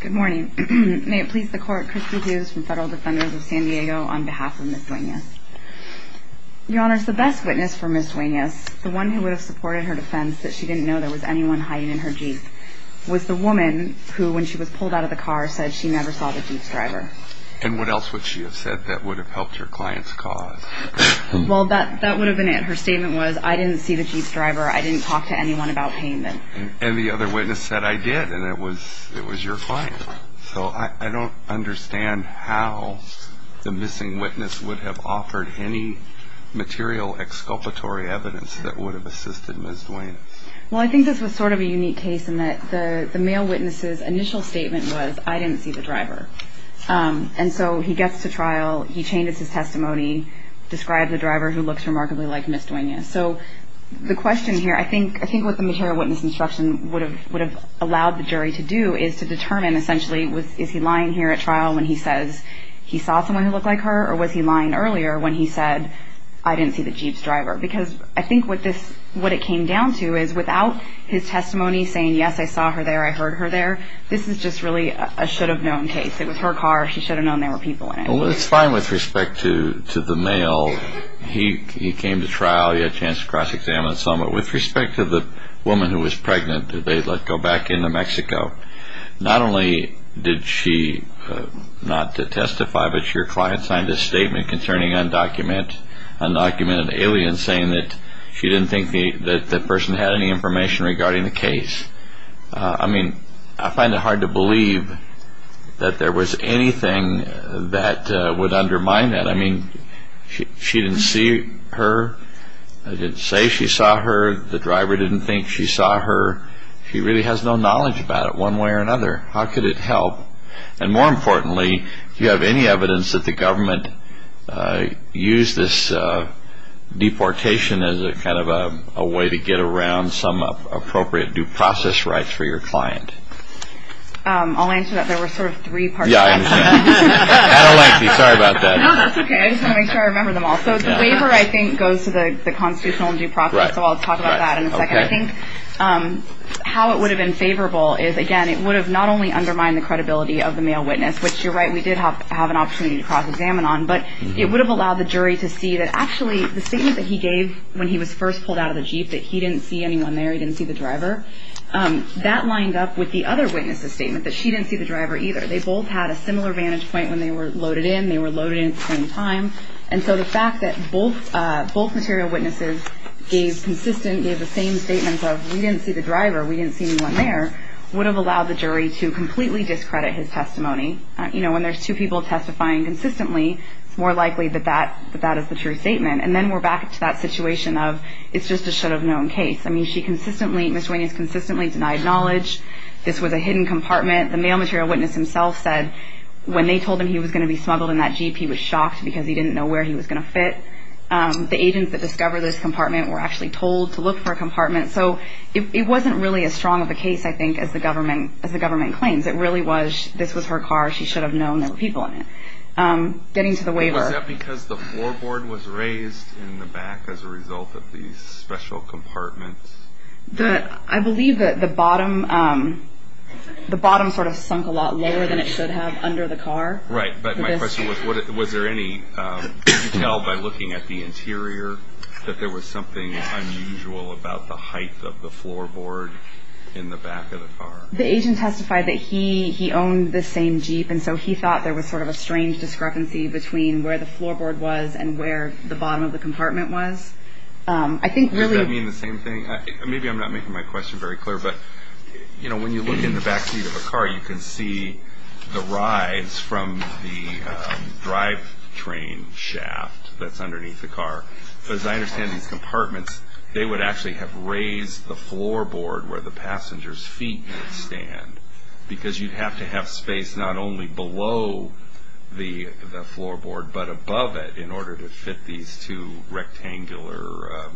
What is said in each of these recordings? Good morning. May it please the court, Christy Hughes from Federal Defenders of San Diego on behalf of Ms. Duenas. Your Honor, the best witness for Ms. Duenas, the one who would have supported her defense that she didn't know there was anyone hiding in her Jeep, was the woman who, when she was pulled out of the car, said she never saw the Jeep's driver. And what else would she have said that would have helped her client's cause? Well, that would have been it. Her statement was, I didn't see the Jeep's driver, I didn't talk to anyone about payment. And the other witness said, I did, and it was your client. So I don't understand how the missing witness would have offered any material exculpatory evidence that would have assisted Ms. Duenas. Well, I think this was sort of a unique case in that the male witness's initial statement was, I didn't see the driver. And so he gets to trial, he changes his testimony, describes a driver who looks remarkably like Ms. Duenas. So the question here, I think what the material witness instruction would have allowed the jury to do is to determine, essentially, is he lying here at trial when he says he saw someone who looked like her, or was he lying earlier when he said, I didn't see the Jeep's driver? Because I think what it came down to is, without his testimony saying, yes, I saw her there, I heard her there, this is just really a should-have-known case. It was her car, she should have known there were people in it. Well, it's fine with respect to the male. He came to trial, he had a chance to cross-examine some. But with respect to the woman who was pregnant that they let go back into Mexico, not only did she not testify, but your client signed a statement concerning undocumented aliens saying that she didn't think that person had any information regarding the case. I mean, I find it hard to believe that there was anything that would undermine that. I mean, she didn't see her, didn't say she saw her, the driver didn't think she saw her. She really has no knowledge about it one way or another. How could it help? And more importantly, do you have any evidence that the government used this deportation as a kind of a way to get around some appropriate due process rights for your client? I'll answer that. There were sort of three parts to that. Yeah, I understand. I don't like these. Sorry about that. No, that's okay. I just want to make sure I remember them all. So the waiver, I think, goes to the constitutional and due process, so I'll talk about that in a second. I think how it would have been favorable is, again, it would have not only undermined the credibility of the male witness, which you're right, we did have an opportunity to cross-examine on, but it would have allowed the jury to see that actually the statement that he gave when he was first pulled out of the Jeep, that he didn't see anyone there, he didn't see the driver, that lined up with the other witness's statement that she didn't see the driver either. They both had a similar vantage point when they were loaded in. They were loaded in at the same time, and so the fact that both material witnesses gave consistent, gave the same statements of, we didn't see the driver, we didn't see anyone there, would have allowed the jury to completely discredit his testimony. You know, when there's two people testifying consistently, it's more likely that that is the true statement. And then we're back to that situation of, it's just a should-have-known case. I mean, she consistently, Ms. Wing has consistently denied knowledge. This was a hidden compartment. The male material witness himself said when they told him he was going to be smuggled in that Jeep, he was shocked because he didn't know where he was going to fit. The agents that discovered this compartment were actually told to look for a compartment. So it wasn't really as strong of a case, I think, as the government claims. It really was, this was her car. She should have known there were people in it. Getting to the waiver. Was that because the floorboard was raised in the back as a result of these special compartments? I believe that the bottom sort of sunk a lot lower than it should have under the car. Right, but my question was, was there any detail by looking at the interior that there was something unusual about the height of the floorboard in the back of the car? The agent testified that he owned the same Jeep, and so he thought there was sort of a strange discrepancy between where the floorboard was and where the bottom of the compartment was. Does that mean the same thing? Maybe I'm not making my question very clear. But, you know, when you look in the back seat of a car, you can see the rise from the drivetrain shaft that's underneath the car. As I understand these compartments, they would actually have raised the floorboard where the passenger's feet would stand because you'd have to have space not only below the floorboard, but above it in order to fit these two rectangular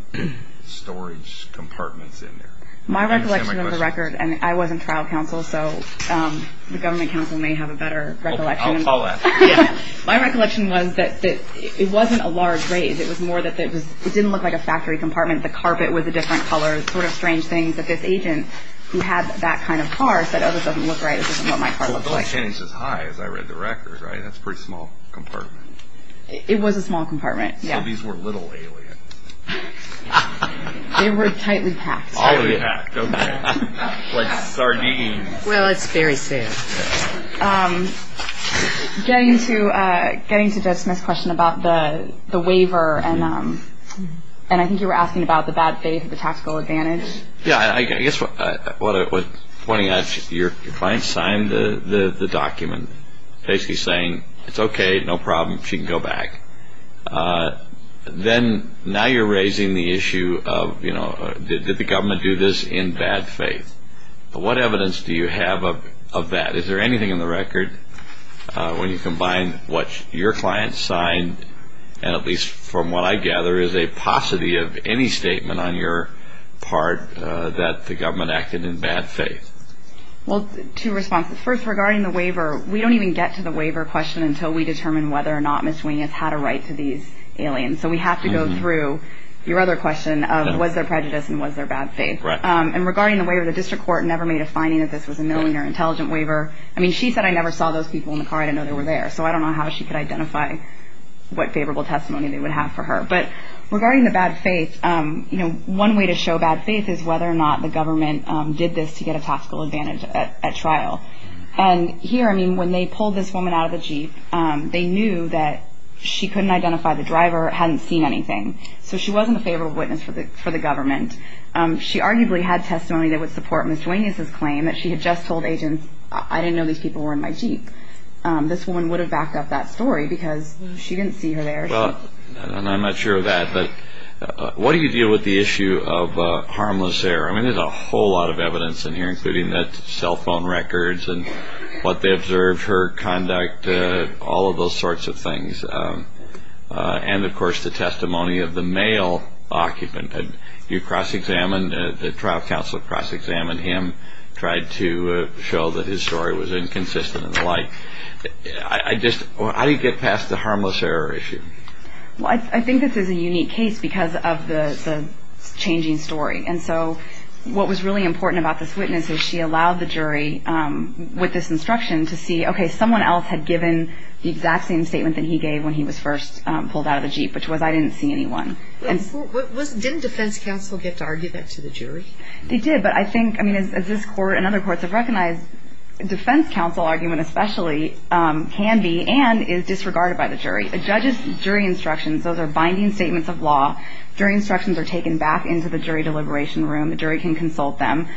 storage compartments in there. My recollection of the record, and I was in trial counsel, so the government counsel may have a better recollection. I'll call that. My recollection was that it wasn't a large raise. It was more that it didn't look like a factory compartment. The carpet was a different color. Sort of strange things that this agent who had that kind of car said, oh, this doesn't look right. This isn't what my car looks like. Well, it's not as high as I read the record, right? That's a pretty small compartment. It was a small compartment, yeah. So these were little Elliot. They were tightly packed. Tightly packed, okay. Like sardines. Well, it's very sad. Getting to Jed Smith's question about the waiver, and I think you were asking about the bad faith and the tactical advantage. Yeah. I guess what I was pointing at, your client signed the document basically saying, it's okay, no problem, she can go back. Then now you're raising the issue of, you know, did the government do this in bad faith? What evidence do you have of that? Is there anything in the record when you combine what your client signed, and at least from what I gather is a paucity of any statement on your part, that the government acted in bad faith? Well, two responses. First, regarding the waiver, we don't even get to the waiver question until we determine whether or not Ms. Wing has had a right to these aliens. So we have to go through your other question of was there prejudice and was there bad faith. And regarding the waiver, the district court never made a finding that this was a milling or intelligent waiver. I mean, she said, I never saw those people in the car. I didn't know they were there. So I don't know how she could identify what favorable testimony they would have for her. But regarding the bad faith, you know, one way to show bad faith is whether or not the government did this to get a tactical advantage at trial. And here, I mean, when they pulled this woman out of the Jeep, they knew that she couldn't identify the driver, hadn't seen anything. So she wasn't a favorable witness for the government. She arguably had testimony that would support Ms. Wing's claim that she had just told agents, I didn't know these people were in my Jeep. This woman would have backed up that story because she didn't see her there. Well, and I'm not sure of that, but what do you do with the issue of harmless error? I mean, there's a whole lot of evidence in here, including cell phone records and what they observed, her conduct, all of those sorts of things. And, of course, the testimony of the male occupant. You cross-examined, the trial counsel cross-examined him, tried to show that his story was inconsistent and the like. I just, how do you get past the harmless error issue? Well, I think this is a unique case because of the changing story. And so what was really important about this witness is she allowed the jury, with this instruction, to see, okay, someone else had given the exact same statement that he gave when he was first pulled out of the Jeep, which was, I didn't see anyone. Didn't defense counsel get to argue that to the jury? They did. But I think, I mean, as this Court and other courts have recognized, defense counsel argument especially can be and is disregarded by the jury. A judge's jury instructions, those are binding statements of law. Jury instructions are taken back into the jury deliberation room. The jury can consult them.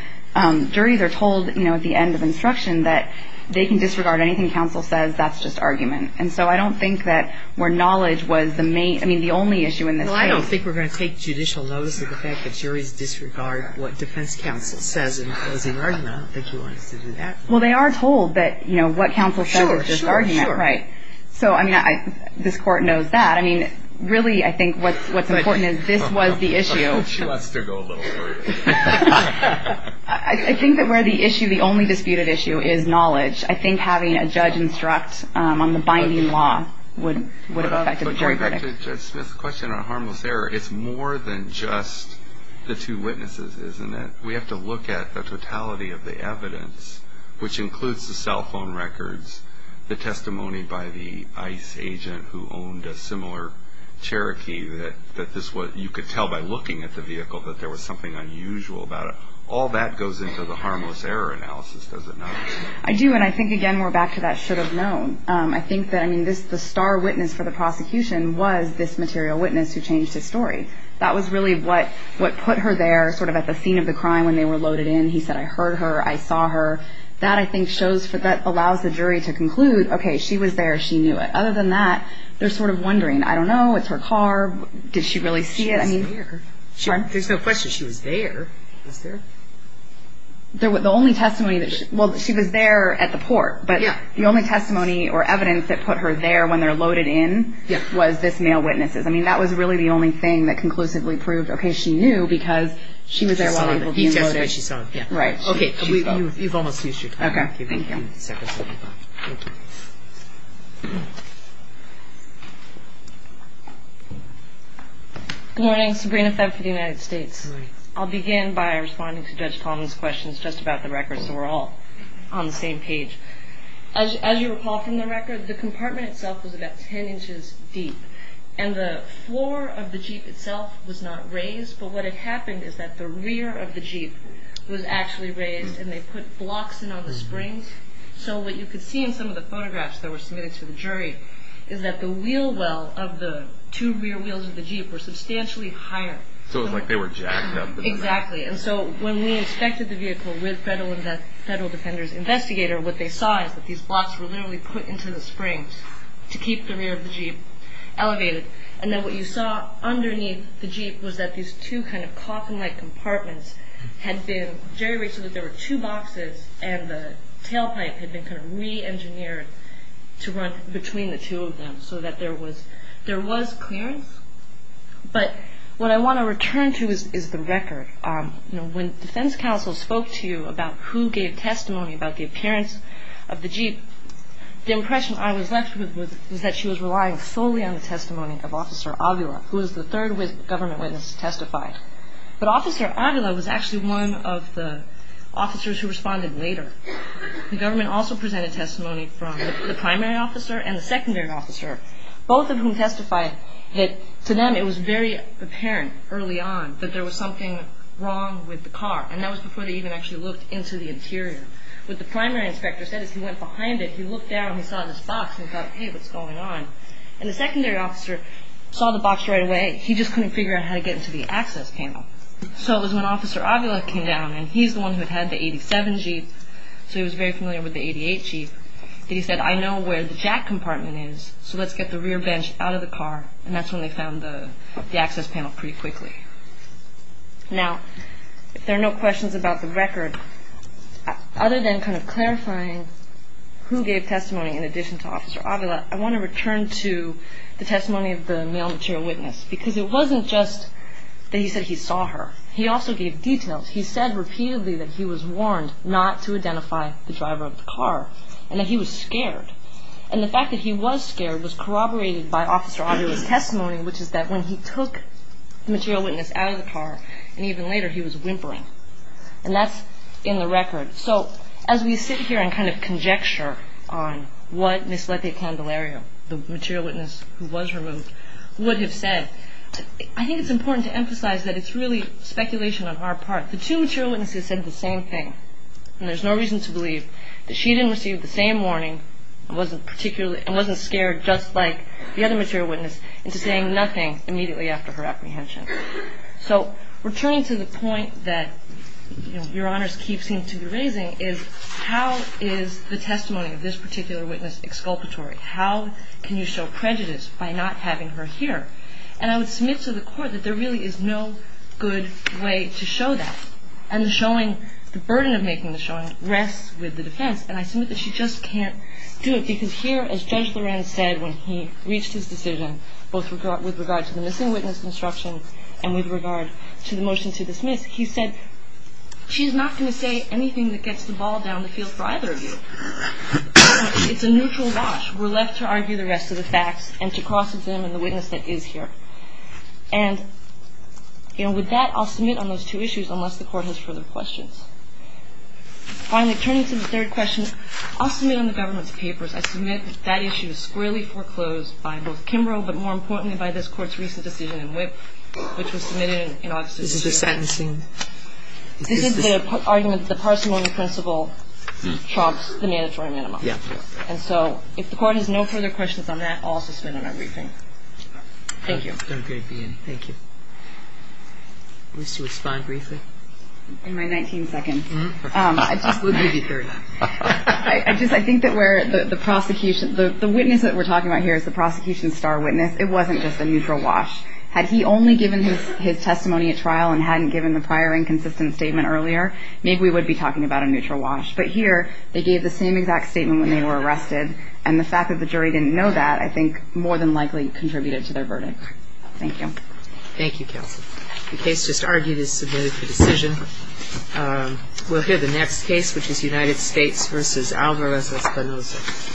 Juries are told, you know, at the end of instruction that they can disregard anything counsel says. That's just argument. And so I don't think that where knowledge was the main, I mean, the only issue in this case. Well, I don't think we're going to take judicial notice of the fact that juries disregard what defense counsel says in closing argument. I don't think he wants to do that. Well, they are told that, you know, what counsel says is just argument, right? Sure, sure, sure. So, I mean, this Court knows that. I mean, really, I think what's important is this was the issue. She wants to go a little further. I think that where the issue, the only disputed issue is knowledge, I think having a judge instruct on the binding law would have affected the jury verdict. To Judge Smith's question on harmless error, it's more than just the two witnesses, isn't it? We have to look at the totality of the evidence, which includes the cell phone records, the testimony by the ICE agent who owned a similar Cherokee, that this was, you could tell by looking at the vehicle that there was something unusual about it. All that goes into the harmless error analysis, does it not? I do, and I think, again, we're back to that should have known. I think that, I mean, the star witness for the prosecution was this material witness who changed his story. That was really what put her there, sort of at the scene of the crime when they were loaded in. He said, I heard her, I saw her. That, I think, allows the jury to conclude, okay, she was there, she knew it. Other than that, they're sort of wondering, I don't know, it's her car, did she really see it? She was there. There's no question she was there. Was there? The only testimony that she, well, she was there at the port, but the only testimony or evidence that put her there when they were loaded in was this male witness. I mean, that was really the only thing that conclusively proved, okay, she knew because she was there while people were being loaded. He testified she saw it. Right. Okay. You've almost used your time. Okay, thank you. Thank you. Good morning. Sabrina Febb for the United States. I'll begin by responding to Judge Palmer's questions just about the record so we're all on the same page. As you recall from the record, the compartment itself was about 10 inches deep, and the floor of the Jeep itself was not raised, but what had happened is that the rear of the Jeep was actually raised, and they put blocks in on the springs. So what you could see in some of the photographs that were submitted to the jury is that the wheel well of the two rear wheels of the Jeep were substantially higher. So it was like they were jacked up. Exactly. And so when we inspected the vehicle with Federal Defender's Investigator, what they saw is that these blocks were literally put into the springs to keep the rear of the Jeep elevated, and then what you saw underneath the Jeep was that these two kind of coffin-like compartments had been jerry-raced so that there were two boxes and the tailpipe had been kind of re-engineered to run between the two of them so that there was clearance. But what I want to return to is the record. When defense counsel spoke to you about who gave testimony about the appearance of the Jeep, the impression I was left with was that she was relying solely on the testimony of Officer Avila, who was the third government witness to testify. But Officer Avila was actually one of the officers who responded later. The government also presented testimony from the primary officer and the secondary officer, both of whom testified that to them it was very apparent early on that there was something wrong with the car, and that was before they even actually looked into the interior. What the primary inspector said is he went behind it, he looked down, he saw this box, and he thought, hey, what's going on? And the secondary officer saw the box right away. He just couldn't figure out how to get into the access panel. So it was when Officer Avila came down, and he's the one who had had the 87 Jeep, so he was very familiar with the 88 Jeep, that he said, I know where the jack compartment is, so let's get the rear bench out of the car, and that's when they found the access panel pretty quickly. Now, if there are no questions about the record, other than kind of clarifying who gave testimony in addition to Officer Avila, I want to return to the testimony of the male material witness, because it wasn't just that he said he saw her. He also gave details. He said repeatedly that he was warned not to identify the driver of the car, and that he was scared. And the fact that he was scared was corroborated by Officer Avila's testimony, which is that when he took the material witness out of the car, and even later he was whimpering, and that's in the record. So as we sit here and kind of conjecture on what Ms. Leti Candelario, the material witness who was removed, would have said, I think it's important to emphasize that it's really speculation on our part. The two material witnesses said the same thing, and there's no reason to believe that she didn't receive the same warning and wasn't scared just like the other material witness into saying nothing immediately after her apprehension. So returning to the point that, you know, Your Honors keeps seem to be raising is how is the testimony of this particular witness exculpatory? How can you show prejudice by not having her here? And I would submit to the Court that there really is no good way to show that. And the showing, the burden of making the showing rests with the defense, and I submit that she just can't do it. Because here, as Judge Lorenz said when he reached his decision, both with regard to the missing witness construction and with regard to the motion to dismiss, he said, she's not going to say anything that gets the ball down the field for either of you. It's a neutral watch. We're left to argue the rest of the facts and to cross examine the witness that is here. And, you know, with that, I'll submit on those two issues unless the Court has further questions. Finally, turning to the third question, I'll submit on the government's papers, I submit that that issue is squarely foreclosed by both Kimbrough, but more importantly by this Court's recent decision in Whip, which was submitted in August of this year. This is your sentencing? This is the argument that the parsimony principle trumps the mandatory minimum. Yeah. And so if the Court has no further questions on that, I'll suspend my briefing. Thank you. Okay. Thank you. Would you like to respond briefly? In my 19 seconds. We'll give you 30. I just think that where the prosecution, the witness that we're talking about here is the prosecution's star witness. It wasn't just a neutral watch. Had he only given his testimony at trial and hadn't given the prior inconsistent statement earlier, maybe we would be talking about a neutral watch. But here, they gave the same exact statement when they were arrested, and the fact that the jury didn't know that, I think, more than likely contributed to their verdict. Thank you. Thank you, Kelsey. The case just argued is submitted for decision. We'll hear the next case, which is United States v. Alvarez-Espinosa.